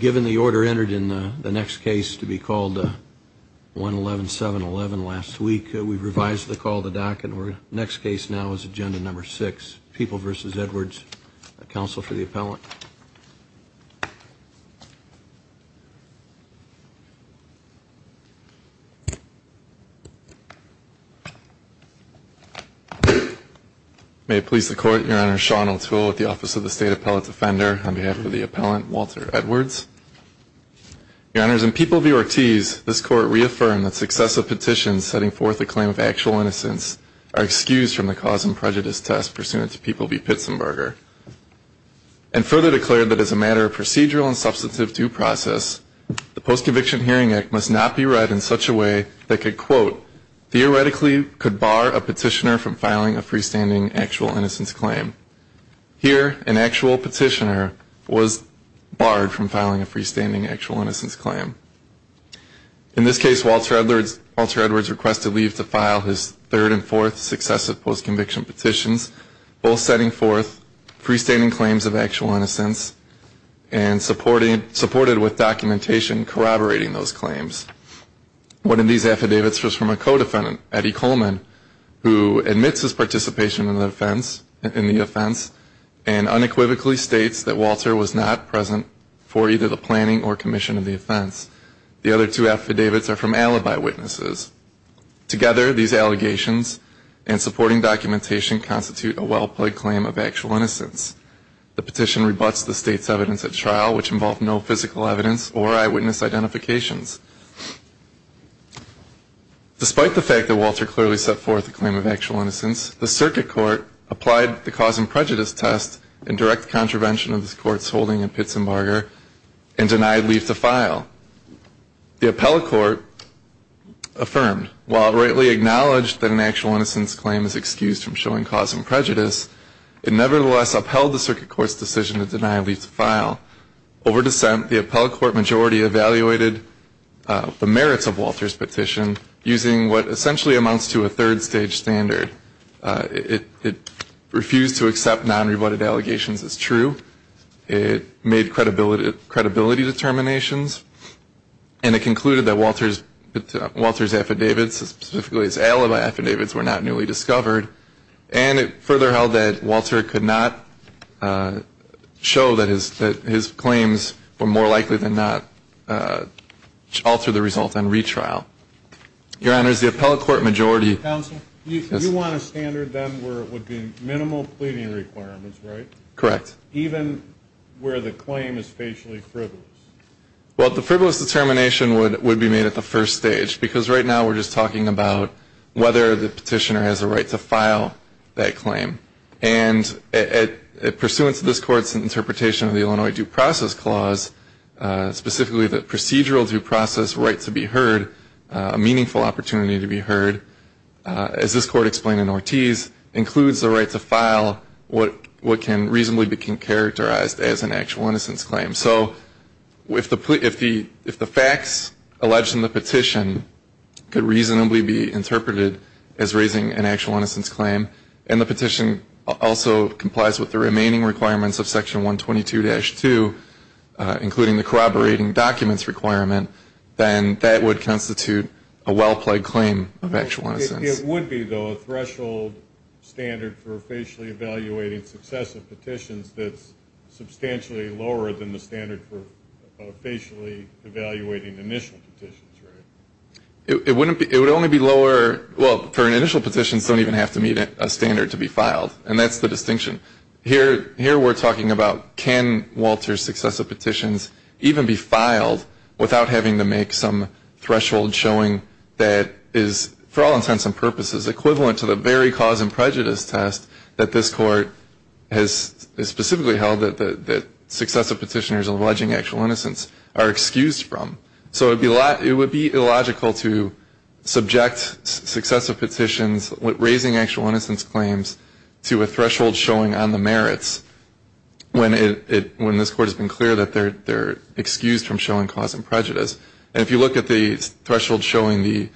Given the order entered in the next case to be called 11711 last week, we've revised the call to docket. Our next case now is agenda number six, People v. Edwards, counsel for the appellant. May it please the Court, Your Honor, Sean O'Toole with the Office of the State Appellate Defender on behalf of the appellant, Walter Edwards. Your Honors, in People v. Ortiz, this Court reaffirmed that successive petitions setting forth the claim of actual innocence are excused from the cause and prejudice test pursuant to People v. Pitzenberger. And further declared that as a matter of procedural and substantive due process, the Post-Conviction Hearing Act must not be read in such a way that could, quote, theoretically could bar a petitioner from filing a freestanding actual innocence claim. Here, an actual petitioner was barred from filing a freestanding actual innocence claim. In this case, Walter Edwards requested leave to file his third and fourth successive post-conviction petitions, both setting forth freestanding claims of actual innocence and supported with documentation corroborating those claims. One of these affidavits was from a co-defendant, Eddie Coleman, who admits his participation in the offense and unequivocally states that Walter was not present for either the planning or commission of the offense. The other two affidavits are from alibi witnesses. Together, these allegations and supporting documentation constitute a well-played claim of actual innocence. The petition rebuts the State's evidence at trial, which involved no physical evidence or eyewitness identifications. Despite the fact that Walter clearly set forth a claim of actual innocence, the Circuit Court applied the cause and prejudice test in direct contravention of this Court's holding in Pitzenberger and denied leave to file. The appellate court affirmed, while rightly acknowledged that an actual innocence claim is excused from showing cause and prejudice, it nevertheless upheld the Circuit Court's decision to deny leave to file. Over dissent, the appellate court majority evaluated the merits of Walter's petition using what essentially amounts to a third-stage standard. It refused to accept non-rebutted allegations as true. It made credibility determinations. And it concluded that Walter's affidavits, specifically his alibi affidavits, were not newly discovered. And it further held that Walter could not show that his claims were more likely than not alter the result on retrial. Your Honors, the appellate court majority Counsel, you want to standard them where it would be minimal pleading requirements, right? Even where the claim is facially frivolous. Well, the frivolous determination would be made at the first stage, because right now we're just talking about whether the petitioner has a right to file that claim. And pursuant to this Court's interpretation of the Illinois Due Process Clause, specifically the procedural due process right to be heard, a meaningful opportunity to be heard, as this Court explained in Ortiz, includes the right to file what can reasonably be characterized as an actual innocence claim. So if the facts alleged in the petition could reasonably be interpreted as raising an actual innocence claim, and the petition also complies with the remaining requirements of Section 122-2, including the corroborating documents requirement, then that would constitute a well-plagued claim of actual innocence. It would be, though, a threshold standard for facially evaluating successive petitions that's substantially lower than the standard for facially evaluating initial petitions, right? It would only be lower, well, for initial petitions don't even have to meet a standard to be filed. And that's the distinction. Here we're talking about can Walter's successive petitions even be filed without having to make some threshold showing that is, for all intents and purposes, equivalent to the very cause and prejudice test that this Court has specifically held that successive petitioners alleging actual innocence are excused from. So it would be illogical to subject successive petitions raising actual innocence claims to a threshold showing that on the merits when this Court has been clear that they're excused from showing cause and prejudice. And if you look at the threshold showing the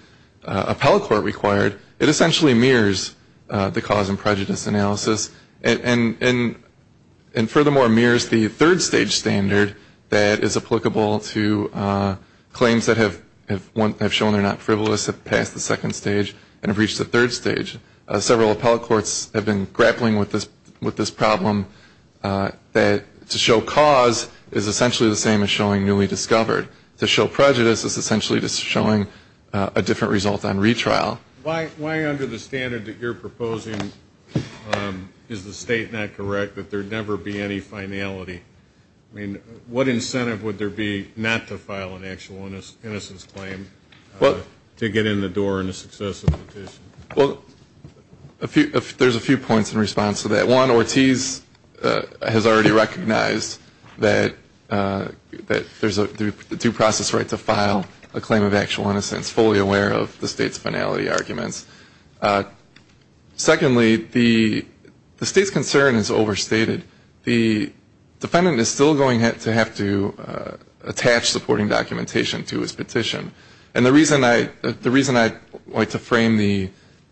appellate court required, it essentially mirrors the cause and prejudice analysis and, furthermore, mirrors the third-stage standard that is applicable to claims that have shown they're not frivolous, have passed the second stage, and have reached the third stage. Several appellate courts have been grappling with this problem, that to show cause is essentially the same as showing newly discovered. To show prejudice is essentially just showing a different result on retrial. Why, under the standard that you're proposing, is the State not correct that there never be any finality? I mean, what incentive would there be not to file an actual innocence claim to get in the door in a successive petition? There's a few points in response to that. One, Ortiz has already recognized that there's a due process right to file a claim of actual innocence, fully aware of the State's finality arguments. Secondly, the State's concern is overstated. The defendant is still going to have to attach supporting documentation to his petition. And the reason I like to frame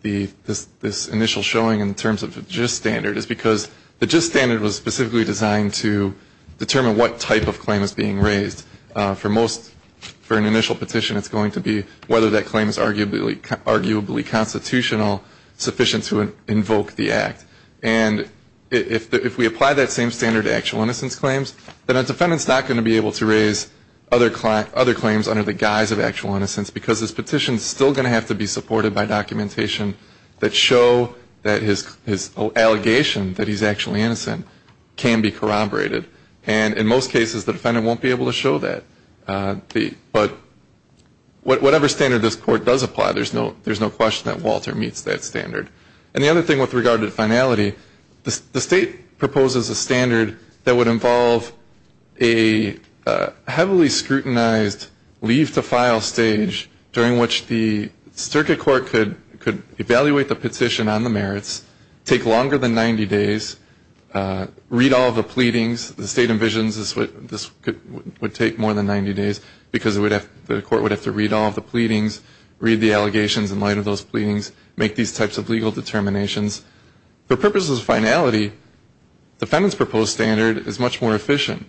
this initial showing in terms of the gist standard is because the gist standard was specifically designed to determine what type of claim is being raised. For most, for an initial petition, it's going to be whether that claim is arguably constitutional, sufficient to invoke the Act. And if we apply that same standard to actual innocence claims, then a defendant is not going to be able to raise other claims under the guise of actual innocence because his petition is still going to have to be supported by documentation that show that his allegation that he's actually innocent can be corroborated. And in most cases, the defendant won't be able to show that. But whatever standard this Court does apply, there's no question that Walter meets that standard. And the other thing with regard to finality, the State proposes a standard that would involve a heavily scrutinized leave-to-file stage during which the Circuit Court could evaluate the petition on the merits, take longer than 90 days, read all the pleadings. The State envisions this would take more than 90 days because the Court would have to read all the pleadings, read the allegations in light of those pleadings, make these types of legal determinations. For purposes of finality, the defendant's proposed standard is much more efficient.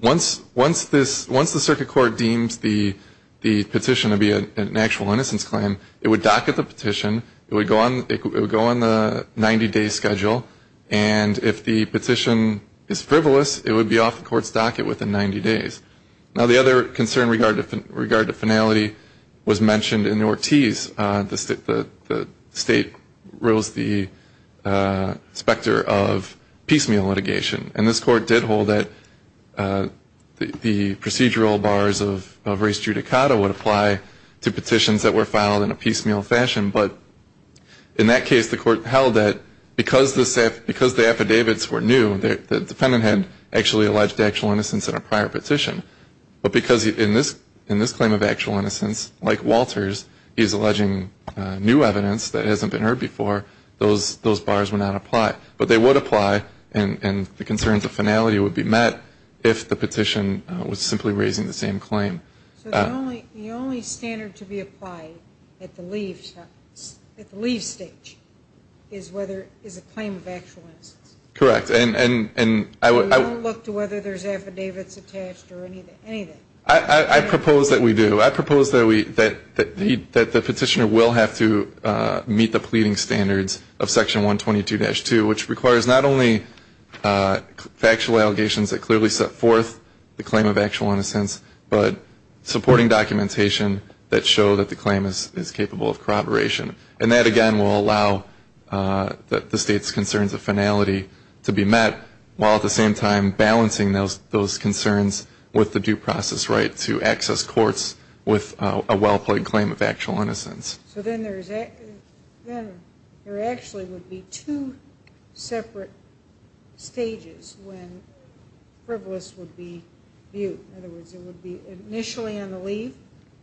Once the Circuit Court deems the petition to be an actual innocence claim, it would docket the petition, it would go on the 90-day schedule, and if the petition is frivolous, it would be off the Court's docket within 90 days. Now, the other concern with regard to finality was mentioned in Ortiz. The State rules the specter of piecemeal litigation. And this Court did hold that the procedural bars of res judicata would apply to petitions that were filed in a piecemeal fashion. But in that case, the Court held that because the affidavits were new, the defendant had actually alleged actual innocence in a prior petition. But because in this claim of actual innocence, like Walters, he's alleging new evidence that hasn't been heard before, those bars would not apply. But they would apply, and the concerns of finality would be met if the petition was simply raising the same claim. So the only standard to be applied at the leave stage is whether it's a claim of actual innocence. Correct, and I would We don't look to whether there's affidavits attached or anything. I propose that we do. I propose that the petitioner will have to meet the pleading standards of Section 122-2, which requires not only factual allegations that clearly set forth the claim of actual innocence, but supporting documentation that show that the claim is capable of corroboration. And that, again, will allow the State's concerns of finality to be met, while at the same time balancing those concerns with the due process right to access courts with a well-played claim of actual innocence. So then there actually would be two separate stages when frivolous would be viewed. In other words, it would be initially on the leave,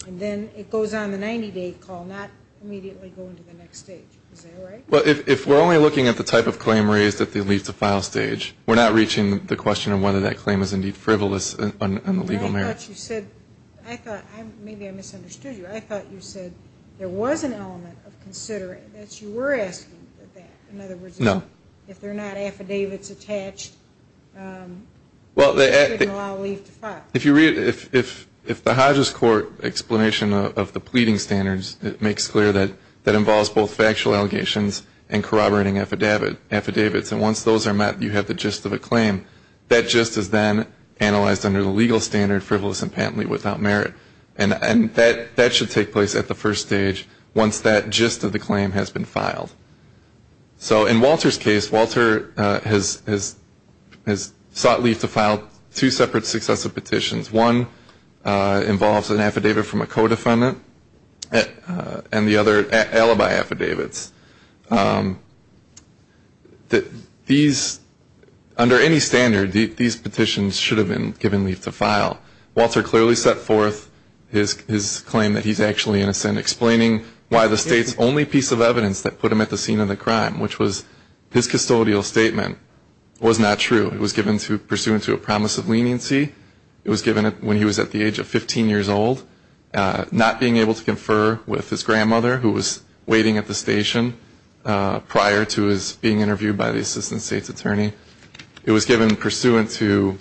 and then it goes on the 90-day call, not immediately going to the next stage. Is that right? Well, if we're only looking at the type of claim raised at the leave-to-file stage, we're not reaching the question of whether that claim is indeed frivolous on the legal merits. I thought you said, I thought, maybe I misunderstood you. I thought you said there was an element of considering that you were asking for that. In other words, if there are not affidavits attached, it didn't allow leave to file. If you read, if the Hodges Court explanation of the pleading standards, it makes clear that that involves both factual allegations and corroborating affidavits. And once those are met, you have the gist of a claim. That gist is then analyzed under the legal standard, frivolous and patently without merit. And that should take place at the first stage once that gist of the claim has been filed. So in Walter's case, Walter has sought leave to file two separate successive petitions. One involves an affidavit from a co-defendant and the other alibi affidavits. These, under any standard, these petitions should have been given leave to file. Walter clearly set forth his claim that he's actually innocent, and explaining why the state's only piece of evidence that put him at the scene of the crime, which was his custodial statement, was not true. It was given pursuant to a promise of leniency. It was given when he was at the age of 15 years old, not being able to confer with his grandmother who was waiting at the station prior to his being interviewed by the assistant state's attorney. It was given pursuant to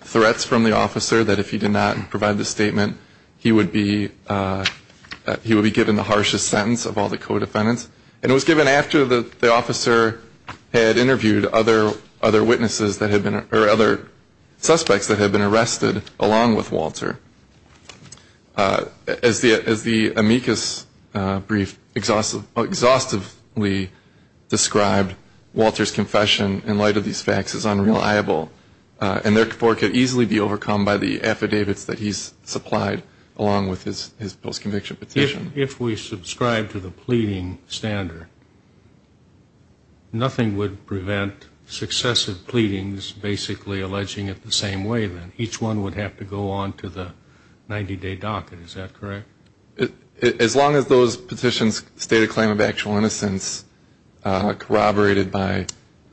threats from the officer that if he did not provide the statement, he would be given the harshest sentence of all the co-defendants. And it was given after the officer had interviewed other witnesses that had been, or other suspects that had been arrested along with Walter. As the amicus brief exhaustively described, Walter's confession in light of these facts is unreliable, and therefore could easily be overcome by the affidavits that he's supplied along with his post-conviction petition. If we subscribe to the pleading standard, nothing would prevent successive pleadings basically alleging it the same way then. Each one would have to go on to the 90-day docket. Is that correct? As long as those petitions state a claim of actual innocence corroborated by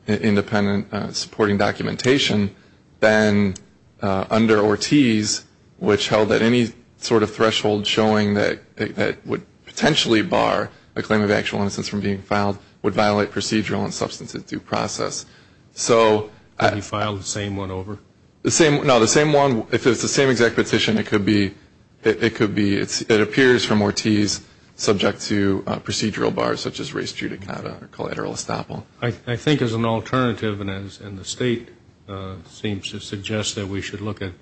independent supporting documentation, then under Ortiz, which held that any sort of threshold showing that it would potentially bar a claim of actual innocence from being filed would violate procedural and substantive due process. So you file the same one over? No, the same one, if it's the same exact petition, it could be. It appears from Ortiz subject to procedural bars such as res judicata or collateral estoppel. I think as an alternative, and the state seems to suggest that we should look at the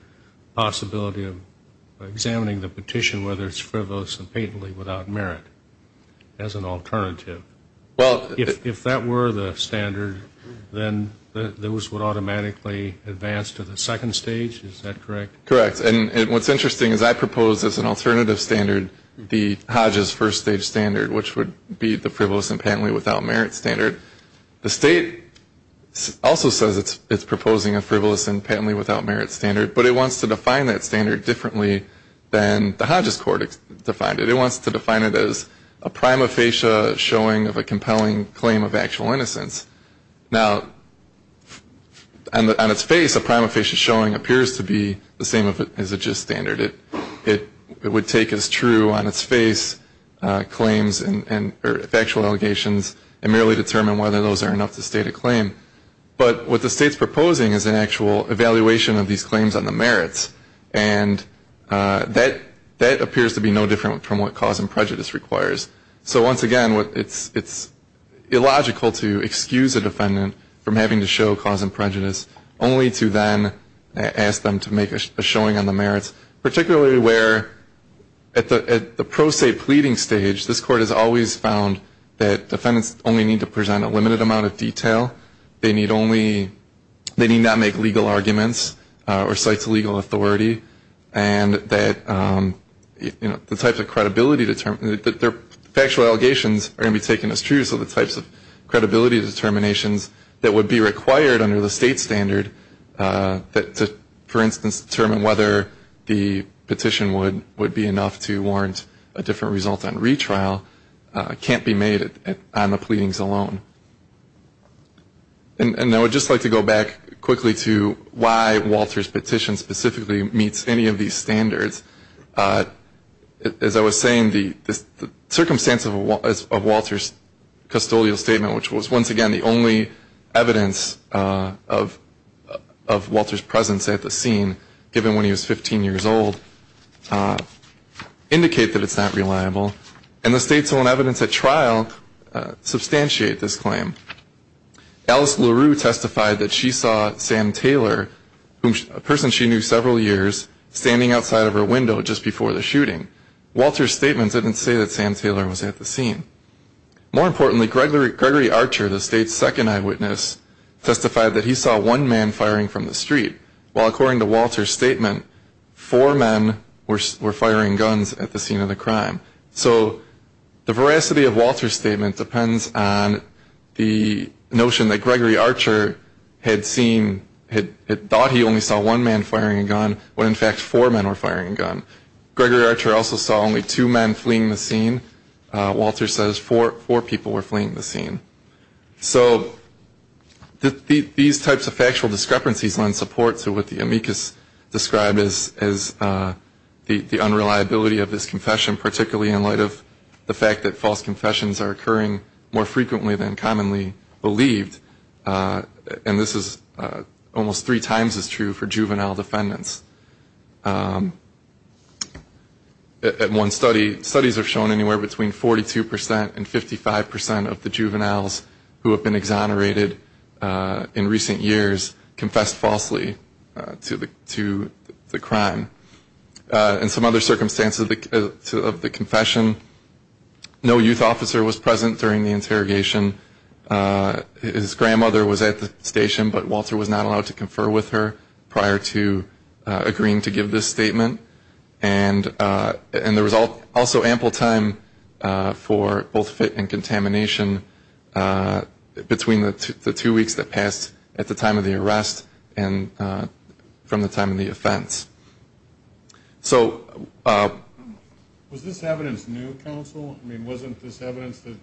possibility of examining the petition, whether it's frivolous and patently without merit, as an alternative. If that were the standard, then those would automatically advance to the second stage, is that correct? Correct. And what's interesting is I propose as an alternative standard the Hodges first-stage standard, which would be the frivolous and patently without merit standard. The state also says it's proposing a frivolous and patently without merit standard, but it wants to define that standard differently than the Hodges court defined it. It wants to define it as a prima facie showing of a compelling claim of actual innocence. Now, on its face, a prima facie showing appears to be the same as a gist standard. It would take as true on its face claims and factual allegations and merely determine whether those are enough to state a claim. But what the state's proposing is an actual evaluation of these claims on the merits, and that appears to be no different from what cause and prejudice requires. So once again, it's illogical to excuse a defendant from having to show cause and prejudice, only to then ask them to make a showing on the merits, particularly where at the pro se pleading stage, this Court has always found that defendants only need to present a limited amount of detail. They need not make legal arguments or cite to legal authority, and that the types of credibility that their factual allegations are going to be taken as true, so the types of credibility determinations that would be required under the state standard, for instance, to determine whether the petition would be enough to warrant a different result on retrial, can't be made on the pleadings alone. And I would just like to go back quickly to why Walter's petition specifically meets any of these standards. As I was saying, the circumstances of Walter's custodial statement, which was once again the only evidence of Walter's presence at the scene, given when he was 15 years old, indicate that it's not reliable. And the state's own evidence at trial substantiate this claim. Alice LaRue testified that she saw Sam Taylor, a person she knew several years, standing outside of her window just before the shooting. Walter's statement didn't say that Sam Taylor was at the scene. More importantly, Gregory Archer, the state's second eyewitness, testified that he saw one man firing from the street, while according to Walter's statement, four men were firing guns at the scene of the crime. So the veracity of Walter's statement depends on the notion that Gregory Archer had seen, had thought he only saw one man firing a gun, when in fact four men were firing a gun. Gregory Archer also saw only two men fleeing the scene. Walter says four people were fleeing the scene. So these types of factual discrepancies lend support to what the amicus described as the unreliability of this confession, particularly in light of the fact that false confessions are occurring more frequently than commonly believed. And this is almost three times as true for juvenile defendants. In one study, studies have shown anywhere between 42% and 55% of the juveniles who have been exonerated in recent years confessed falsely to the crime. In some other circumstances of the confession, no youth officer was present during the interrogation. His grandmother was at the station, but Walter was not allowed to confer with her prior to agreeing to give this statement. And there was also ample time for both fit and contamination between the two weeks that passed at the time of the arrest and from the time of the offense. So was this evidence new, counsel? I mean, wasn't this evidence that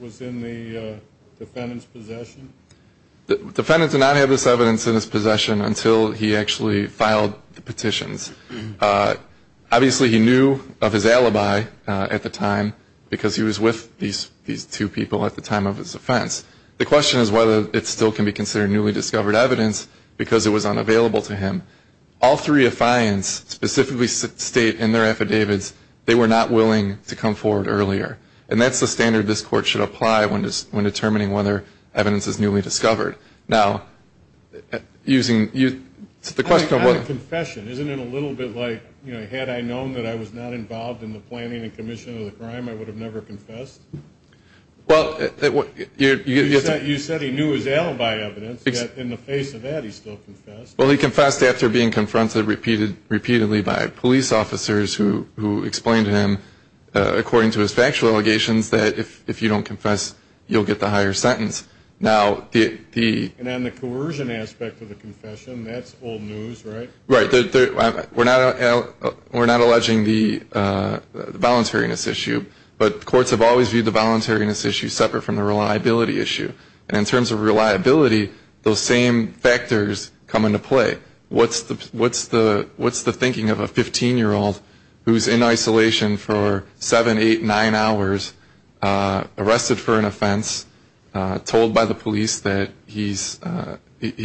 was in the defendant's possession? The defendant did not have this evidence in his possession until he actually filed the petitions. Obviously, he knew of his alibi at the time because he was with these two people at the time of his offense. The question is whether it still can be considered newly discovered evidence because it was unavailable to him. All three affiance specifically state in their affidavits they were not willing to come forward earlier, and that's the standard this court should apply when determining whether evidence is newly discovered. Now, using the question of what the question, isn't it a little bit like, you know, had I known that I was not involved in the planning and commission of the crime, I would have never confessed. Well, you said he knew his alibi evidence. In the face of that, he still confessed. Well, he confessed after being confronted repeatedly by police officers who explained to him, according to his factual allegations, that if you don't confess, you'll get the higher sentence. And on the coercion aspect of the confession, that's old news, right? Right. We're not alleging the voluntariness issue, but courts have always viewed the voluntariness issue separate from the reliability issue. And in terms of reliability, those same factors come into play. What's the thinking of a 15-year-old who's in isolation for seven, eight, nine hours, arrested for an offense, told by the police that he's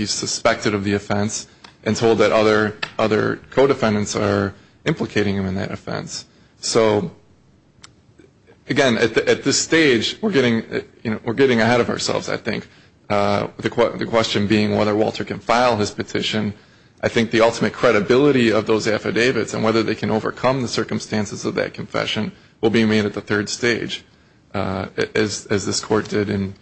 suspected of the offense, and told that other co-defendants are implicating him in that offense? So, again, at this stage, we're getting ahead of ourselves, I think, the question being whether Walter can file his petition. I think the ultimate credibility of those affidavits and whether they can overcome the circumstances of that confession will be made at the third stage, as this court did in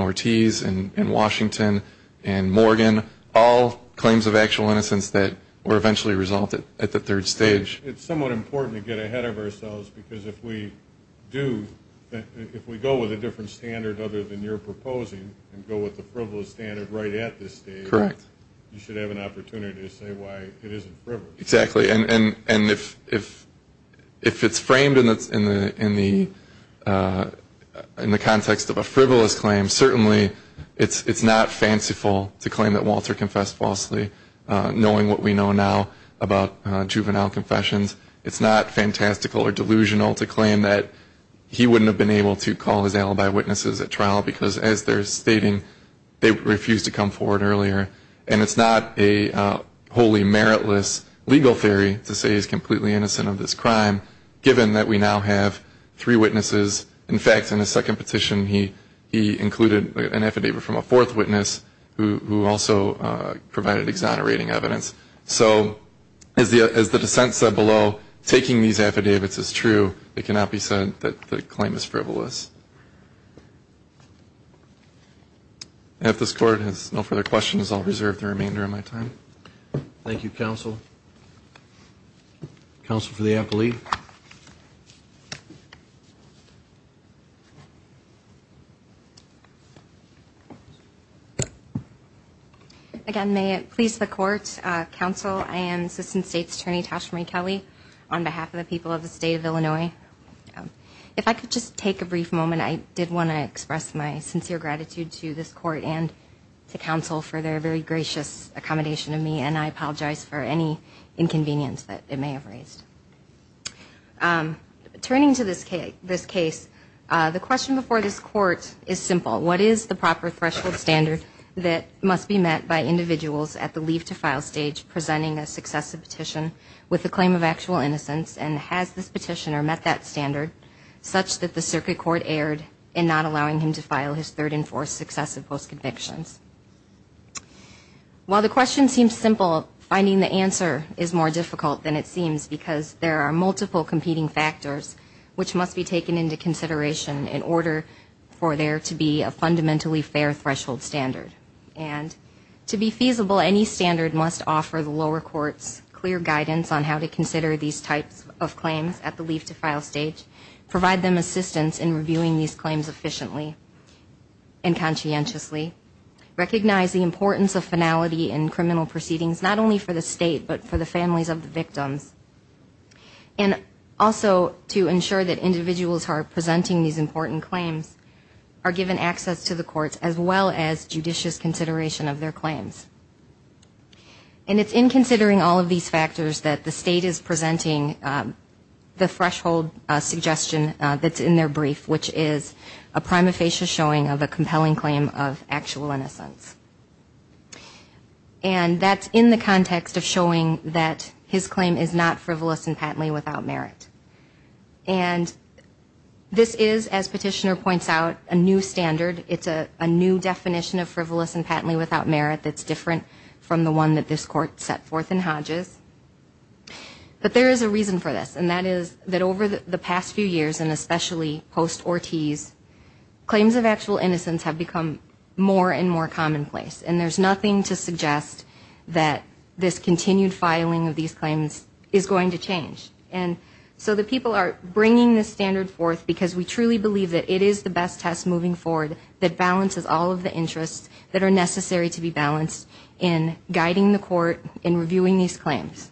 Ortiz and in Washington and Morgan, all claims of actual innocence that were eventually resolved at the third stage. It's somewhat important to get ahead of ourselves, because if we go with a different standard other than you're proposing and go with the frivolous standard right at this stage, you should have an opportunity to say why it isn't frivolous. Exactly. And if it's framed in the context of a frivolous claim, certainly it's not fanciful to claim that Walter confessed falsely, knowing what we know now about juvenile confessions. It's not fantastical or delusional to claim that he wouldn't have been able to call his alibi witnesses at trial, because as they're stating, they refused to come forward earlier. And it's not a wholly meritless legal theory to say he's completely innocent of this crime, given that we now have three witnesses. In fact, in his second petition, he included an affidavit from a fourth witness, who also provided exonerating evidence. So as the dissent said below, taking these affidavits is true. It cannot be said that the claim is frivolous. And if this Court has no further questions, I'll reserve the remainder of my time. Thank you, Counsel. Counsel for the affidavit. Please. Again, may it please the Court, Counsel, I am Assistant State's Attorney Tashmere Kelly, on behalf of the people of the State of Illinois. If I could just take a brief moment, I did want to express my sincere gratitude to this Court and to Counsel for their very gracious accommodation of me, and I apologize for any inconvenience that they may have raised. Turning to this case, the question before this Court is simple. What is the proper threshold standard that must be met by individuals at the leave-to-file stage presenting a successive petition with a claim of actual innocence? And has this petitioner met that standard such that the Circuit Court erred in not allowing him to file his third and fourth successive post-convictions? While the question seems simple, finding the answer is more difficult than it seems because there are multiple competing factors which must be taken into consideration in order for there to be a fundamentally fair threshold standard. And to be feasible, any standard must offer the lower courts clear guidance on how to consider these types of claims at the leave-to-file stage, provide them assistance in reviewing these claims efficiently and conscientiously, recognize the importance of finality in criminal proceedings, not only for the state but for the families of the victims, and also to ensure that individuals who are presenting these important claims are given access to the courts as well as judicious consideration of their claims. And it's in considering all of these factors that the state is presenting the threshold suggestion that's in their brief, which is a prima facie showing of a compelling claim of actual innocence. And that's in the context of showing that his claim is not frivolous and patently without merit. And this is, as Petitioner points out, a new standard. It's a new definition of frivolous and patently without merit that's different from the one that this Court set forth in Hodges. But there is a reason for this, and that is that over the past few years and especially post-Ortiz, claims of actual innocence have become more and more commonplace. And there's nothing to suggest that this continued filing of these claims is going to change. And so the people are bringing this standard forth because we truly believe that it is the best test moving forward that balances all of the interests that are necessary to be balanced in guiding the Court in reviewing these claims.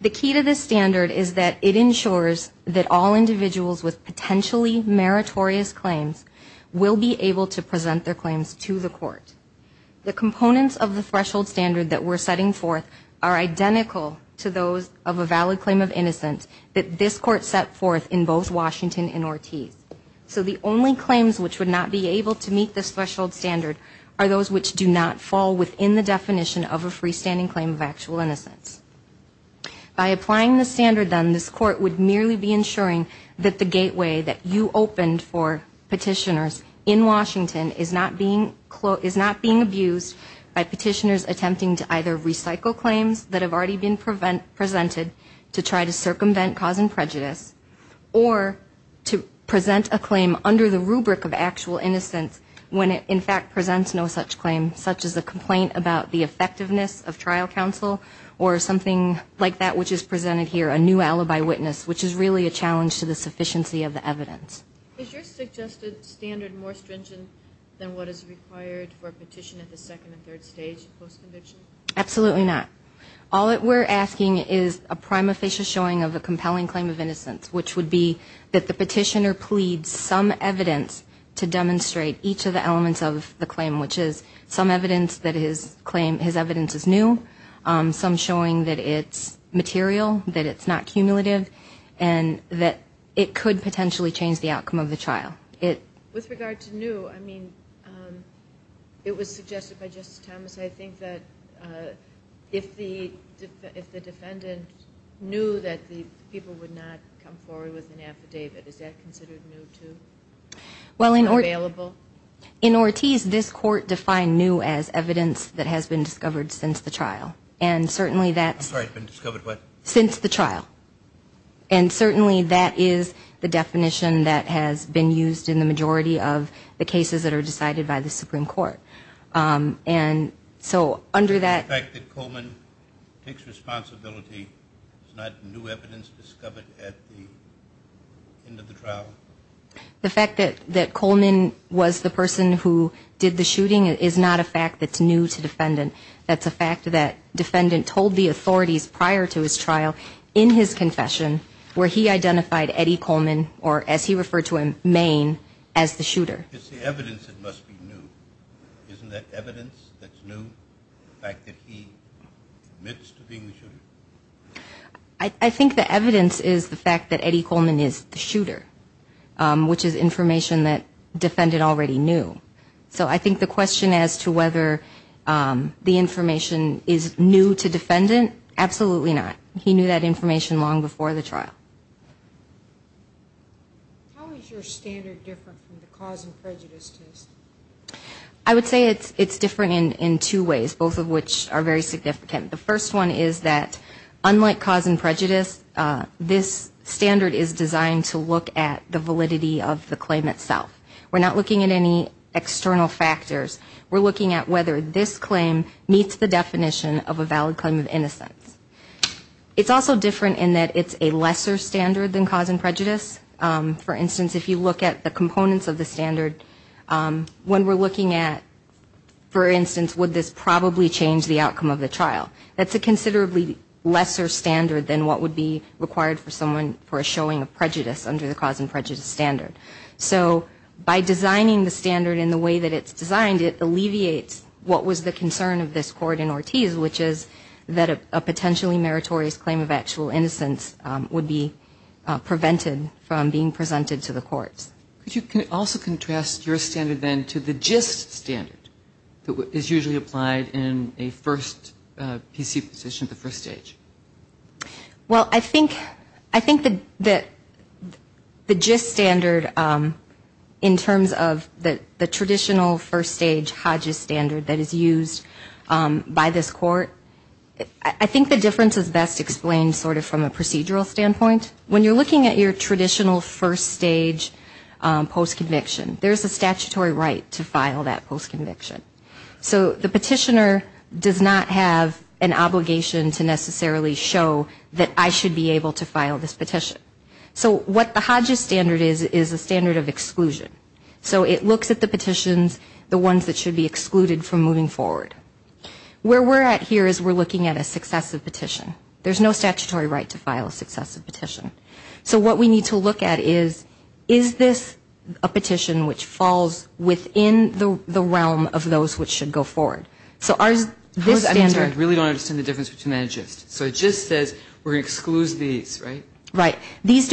The key to this standard is that it ensures that all individuals with potentially meritorious claims will be able to present their claims to the Court. The components of the threshold standard that we're setting forth are identical to those of a valid claim of innocence that this Court set forth in both Washington and Ortiz. So the only claims which would not be able to meet this threshold standard are those which do not fall within the definition of a freestanding claim of actual innocence. By applying this standard, then, this Court would merely be ensuring that the gateway that you opened for petitioners in Washington is not being abused by petitioners attempting to either recycle claims that have already been presented to try to circumvent cause and prejudice, or to present a claim under the rubric of actual innocence when it, in fact, presents no such claim, such as a complaint about the effectiveness of trial counsel or something like that which is presented here, a new alibi witness, which is really a challenge to the sufficiency of the evidence. Is your suggested standard more stringent than what is required for a petition at the second and third stage post-conviction? Absolutely not. All that we're asking is a prima facie showing of a compelling claim of innocence, which would be that the petitioner pleads some evidence to demonstrate each of the elements of the claim, which is some evidence that his evidence is new, some showing that it's material, that it's not cumulative, and that it could potentially change the outcome of the trial. With regard to new, I mean, it was suggested by Justice Thomas, I think that if the defendant knew that the people would not come forward with an affidavit, is that considered new, too, or available? In Ortiz, this court defined new as evidence that has been discovered since the trial. I'm sorry, been discovered what? Since the trial, and certainly that is the definition that has been used in the majority of the cases that are decided by the Supreme Court. And so under that... The fact that Coleman takes responsibility is not new evidence discovered at the end of the trial? The fact that Coleman was the person who did the shooting is not a fact that's new to the defendant. That's a fact that defendant told the authorities prior to his trial in his confession, where he identified Eddie Coleman, or as he referred to him, Maine, as the shooter. It's the evidence that must be new. Isn't that evidence that's new, the fact that he admits to being the shooter? I think the evidence is the fact that Eddie Coleman is the shooter, which is information that defendant already knew. So I think the question as to whether the information is new to defendant, absolutely not. He knew that information long before the trial. How is your standard different from the cause and prejudice test? I would say it's different in two ways, both of which are very significant. The first one is that unlike cause and prejudice, this standard is designed to look at the validity of the claim itself. We're not looking at any external factors. We're looking at whether this claim meets the definition of a valid claim of innocence. It's also different in that it's a lesser standard than cause and prejudice. For instance, if you look at the components of the standard, when we're looking at, for instance, would this probably change the outcome of the trial, that's a considerably lesser standard than what would be required for someone for a showing of prejudice under the cause and prejudice standard. So by designing the standard in the way that it's designed, it alleviates what was the concern of this court in Ortiz, which is that a potentially meritorious claim of actual innocence would be prevented from being presented to the courts. Could you also contrast your standard, then, to the gist standard that is usually applied in a first PC position at the first stage? Well, I think that the gist standard, in terms of the traditional first stage HODGES standard that is used by this court, I think the difference is best explained sort of from a procedural standpoint. When you're looking at your traditional first stage postconviction, there's a statutory right to file that postconviction. So the petitioner does not have an obligation to necessarily show that I should be able to file this petition. So what the HODGES standard is, is a standard of exclusion. So it looks at the petitions, the ones that should be excluded from moving forward. Where we're at here is we're looking at a successive petition. There's no statutory right to file a successive petition. So what we need to look at is, is this a petition which falls within the realm of those which should go forward? So this standard... I'm sorry, I really don't understand the difference between that and gist. So gist says we're going to exclude these, right? Right. These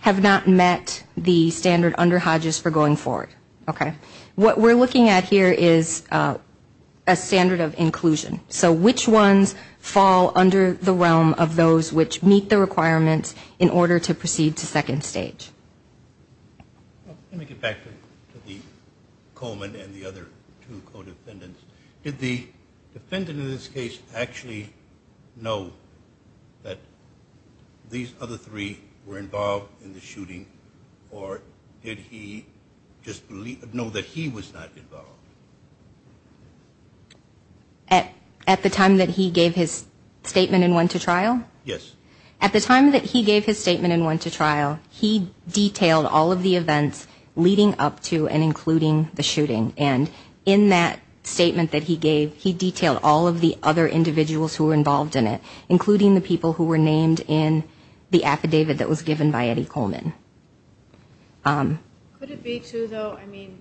have not met the standard under HODGES for going forward. Okay. What we're looking at here is a standard of inclusion. So which ones fall under the realm of those which meet the requirements in order to proceed to second stage? Let me get back to the Coleman and the other two co-defendants. Did the defendant in this case actually know that these other three were involved in the shooting, or did he just know that he was not involved? At the time that he gave his statement and went to trial? Yes. At the time that he gave his statement and went to trial, he detailed all of the events leading up to and including the shooting. And in that statement that he gave, he detailed all of the other individuals who were involved in it, including the people who were named in the affidavit that was given by Eddie Coleman. Could it be, too, though, I mean,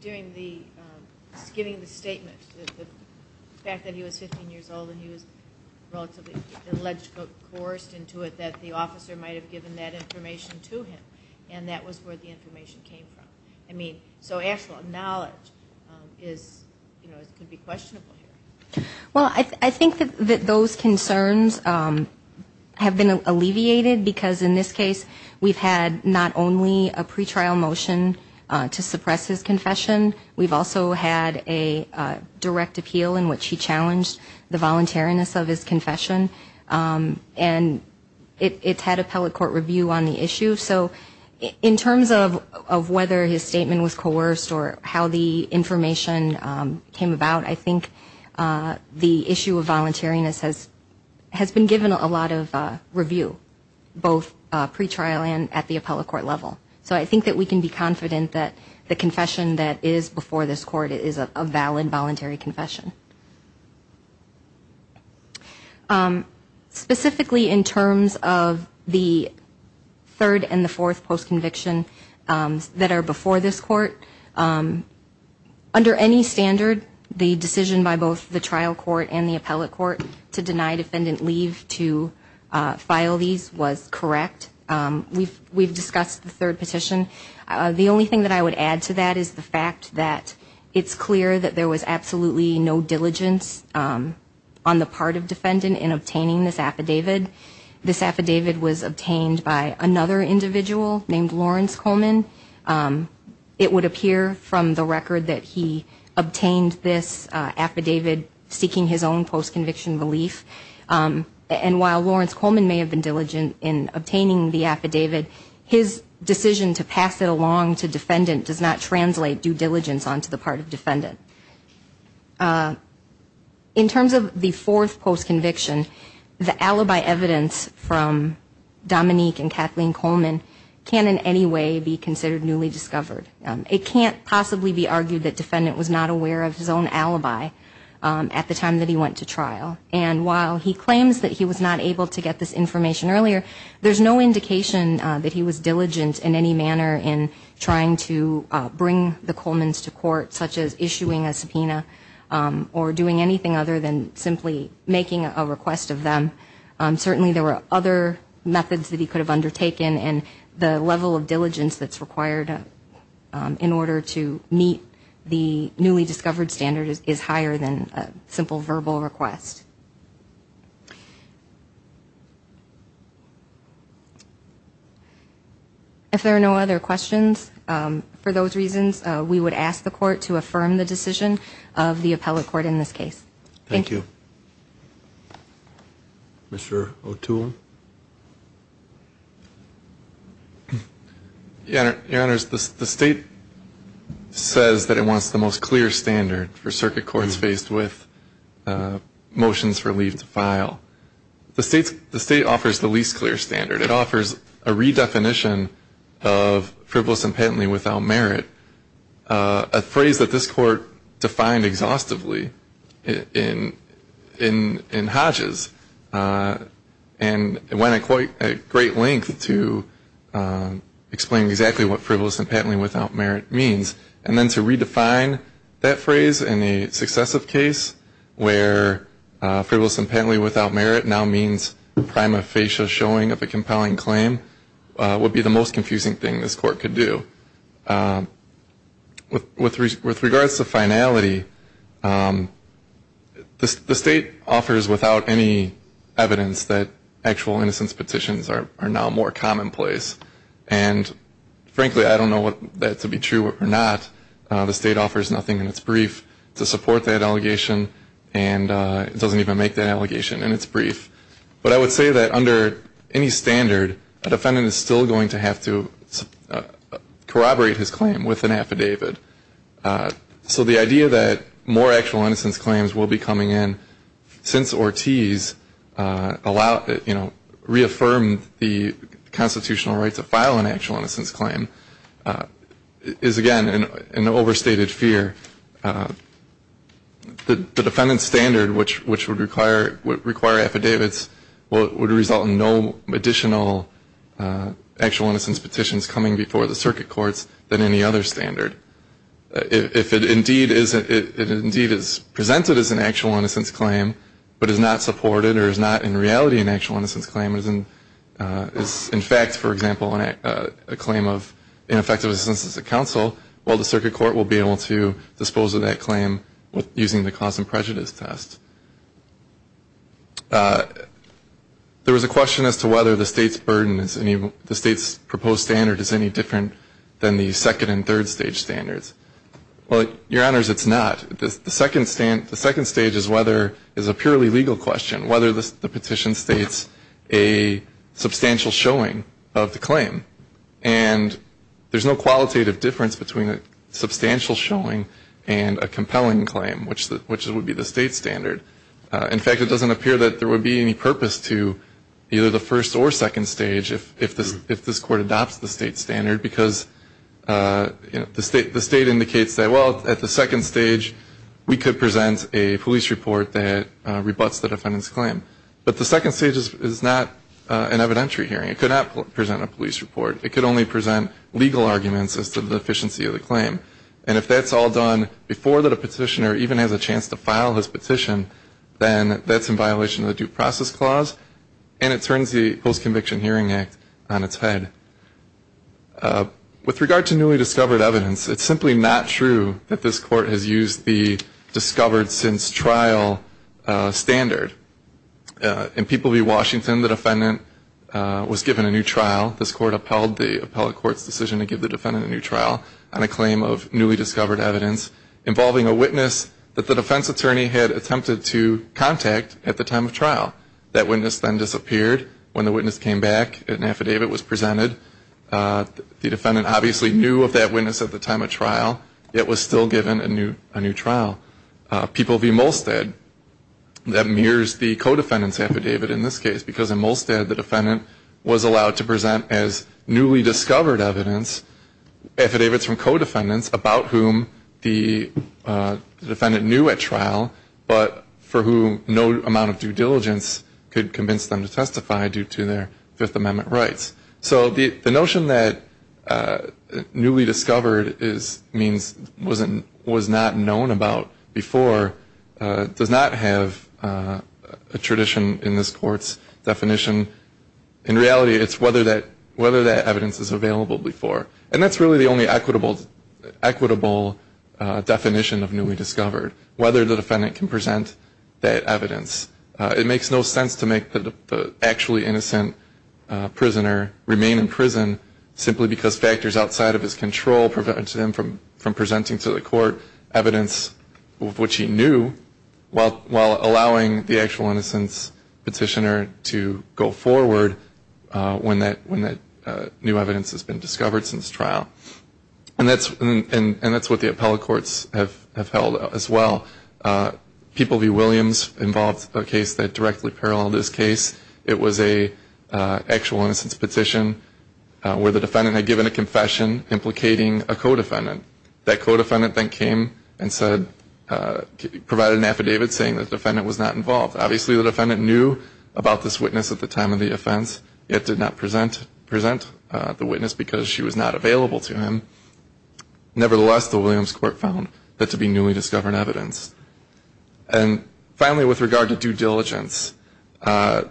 during the giving of the statement, the fact that he was 15 years old and he was relatively allegedly coerced into it, that the officer might have given that information to him, and that was where the information came from? I mean, so actual knowledge can be questionable here. Well, I think that those concerns have been alleviated, because in this case we've had not only a pretrial motion to suppress his confession, we've also had a direct appeal in which he challenged the voluntariness of his confession, and it's had appellate court review on the issue. So in terms of whether his statement was coerced or how the information came about, I think the issue of voluntariness has been given a lot of review, both pretrial and at the appellate court level. So I think that we can be confident that the confession that is before this court is a valid voluntary confession. Specifically in terms of the third and the fourth post-conviction that are before this court, under any standard the decision by both the trial court and the appellate court to deny defendant leave to file these was correct. We've discussed the third petition. The only thing that I would add to that is the fact that it's clear that there was absolutely no pretext and no diligence on the part of defendant in obtaining this affidavit. This affidavit was obtained by another individual named Lawrence Coleman. It would appear from the record that he obtained this affidavit seeking his own post-conviction relief, and while Lawrence Coleman may have been diligent in obtaining the affidavit, his decision to pass it along to defendant does not translate due diligence onto the part of defendant. In terms of the fourth post-conviction, the alibi evidence from Dominique and Kathleen Coleman can in any way be considered newly discovered. It can't possibly be argued that defendant was not aware of his own alibi at the time that he went to trial. And while he claims that he was not able to get this information earlier, there's no indication that he was diligent in any manner in trying to bring the Coleman's to court, such as issuing a subpoena or doing anything other than simply making a request of them. Certainly there were other methods that he could have undertaken, and the level of diligence that's required in order to meet the newly discovered standard is higher than a simple verbal request. If there are no other questions, for those reasons, we would ask the court to affirm the decision of the appellate court in this case. Thank you. Mr. O'Toole. Your Honor, the State says that it wants the most clear standard for circuit courts faced with motions for leave to file. The State offers the least clear standard. It offers a redefinition of frivolous and patently without merit, a phrase that this Court defined exhaustively in Hodges, and went at great length to explain exactly what frivolous and patently without merit means. And then to redefine that phrase in a successive case where frivolous and patently without merit now means prima facie showing of a compelling claim would be the most confusing thing this Court could do. With regards to finality, the State offers without any evidence that actual innocence petitions are now more commonplace. And frankly, I don't know whether that to be true or not. The State offers nothing in its brief to support that allegation, and it doesn't even make that allegation in its brief. But I would say that under any standard, a defendant is still going to have to corroborate his claim with an affidavit. So the idea that more actual innocence claims will be coming in since Ortiz allowed, you know, reaffirmed the constitutional right to file an actual innocence claim is, again, an overstated fear. The defendant's standard, which would require affidavits, would result in no additional actual innocence petitions coming before the circuit courts than any other standard. If it indeed is presented as an actual innocence claim but is not supported or is not in reality an actual innocence claim, it is in fact, for example, a claim of ineffective assistance to counsel, well, the circuit court will be able to dispose of that claim using the cause and prejudice test. There was a question as to whether the State's proposed standard is any different than the second and third stage standards. Well, Your Honors, it's not. The second stage is a purely legal question, whether the petition states a substantial showing of the claim. And there's no qualitative difference between a substantial showing and a compelling claim, which would be the State's standard. In fact, it doesn't appear that there would be any purpose to either the first or second stage if this Court adopts the State's standard because, you know, the State indicates that, well, at the second stage we could present a police report that rebutts the defendant's claim. But the second stage is not an evidentiary hearing. It could not present a police report. It could only present legal arguments as to the deficiency of the claim. And if that's all done before the petitioner even has a chance to file his petition, then that's in violation of the Due Process Clause and it turns the Post-Conviction Hearing Act on its head. With regard to newly discovered evidence, it's simply not true that this Court has used the discovered since trial standard. In People v. Washington, the defendant was given a new trial. This Court upheld the appellate court's decision to give the defendant a new trial on a claim of newly discovered evidence involving a witness that the defense attorney had attempted to contact at the time of trial. That witness then disappeared. When the witness came back, an affidavit was presented. The defendant obviously knew of that witness at the time of trial, yet was still given a new trial. People v. Molstad, that mirrors the co-defendant's affidavit in this case because in Molstad the defendant was allowed to present as newly discovered evidence affidavits from co-defendants about whom the defendant knew at trial, but for whom no amount of due diligence could convince them to testify due to their Fifth Amendment rights. So the notion that newly discovered means was not known about before does not have a tradition in this Court's definition. In reality, it's whether that evidence is available before. And that's really the only equitable definition of newly discovered, whether the defendant can present that evidence. It makes no sense to make the actually innocent prisoner remain in prison simply because factors outside of his control prevent him from presenting to the Court evidence of which he knew while allowing the actual innocent petitioner to go forward when that new evidence has been discovered since trial. And that's what the appellate courts have held as well. People v. Williams involved a case that directly paralleled this case. It was an actual innocence petition where the defendant had given a confession implicating a co-defendant. That co-defendant then came and said, provided an affidavit saying the defendant was not involved. Obviously the defendant knew about this witness at the time of the offense, yet did not present the witness because she was not available to him. Nevertheless, the Williams Court found that to be newly discovered evidence. And finally, with regard to due diligence, the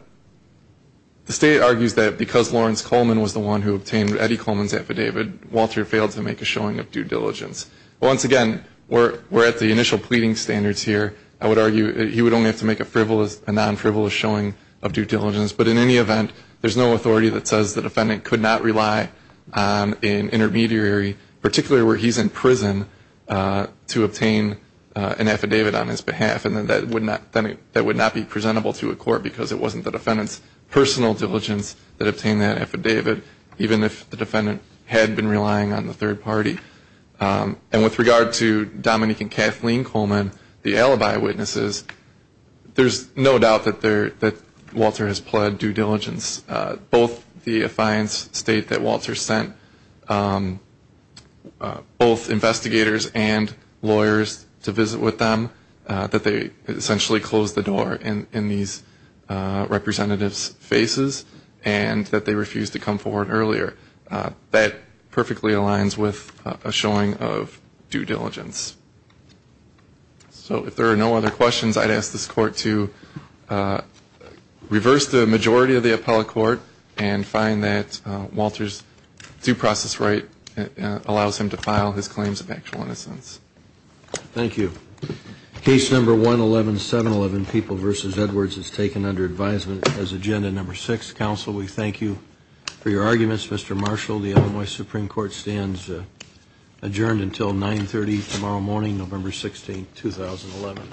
State argues that because Lawrence Coleman was the one who obtained Eddie Coleman's affidavit, Walter failed to make a showing of due diligence. Once again, we're at the initial pleading standards here. I would argue he would only have to make a non-frivolous showing of due diligence. But in any event, there's no authority that says the defendant could not rely on an intermediary, particularly where he's in prison, to obtain an affidavit on his behalf. And that would not be presentable to a court because it wasn't the defendant's personal diligence that obtained that affidavit, even if the defendant had been relying on the third party. And with regard to Dominique and Kathleen Coleman, the alibi witnesses, there's no doubt that Walter has pled due diligence. Both the affiance state that Walter sent both investigators and lawyers to visit with them, that they essentially closed the door in these representatives' faces, and that they refused to come forward earlier. That perfectly aligns with a showing of due diligence. So if there are no other questions, I'd ask this Court to reverse the majority of the appellate court and find that Walter's due process right allows him to file his claims of actual innocence. Thank you. Case number 111711, People v. Edwards, is taken under advisement as agenda number 6. Counsel, we thank you for your arguments. Mr. Marshall, the Illinois Supreme Court stands adjourned until 9.30 tomorrow morning, November 16, 2011.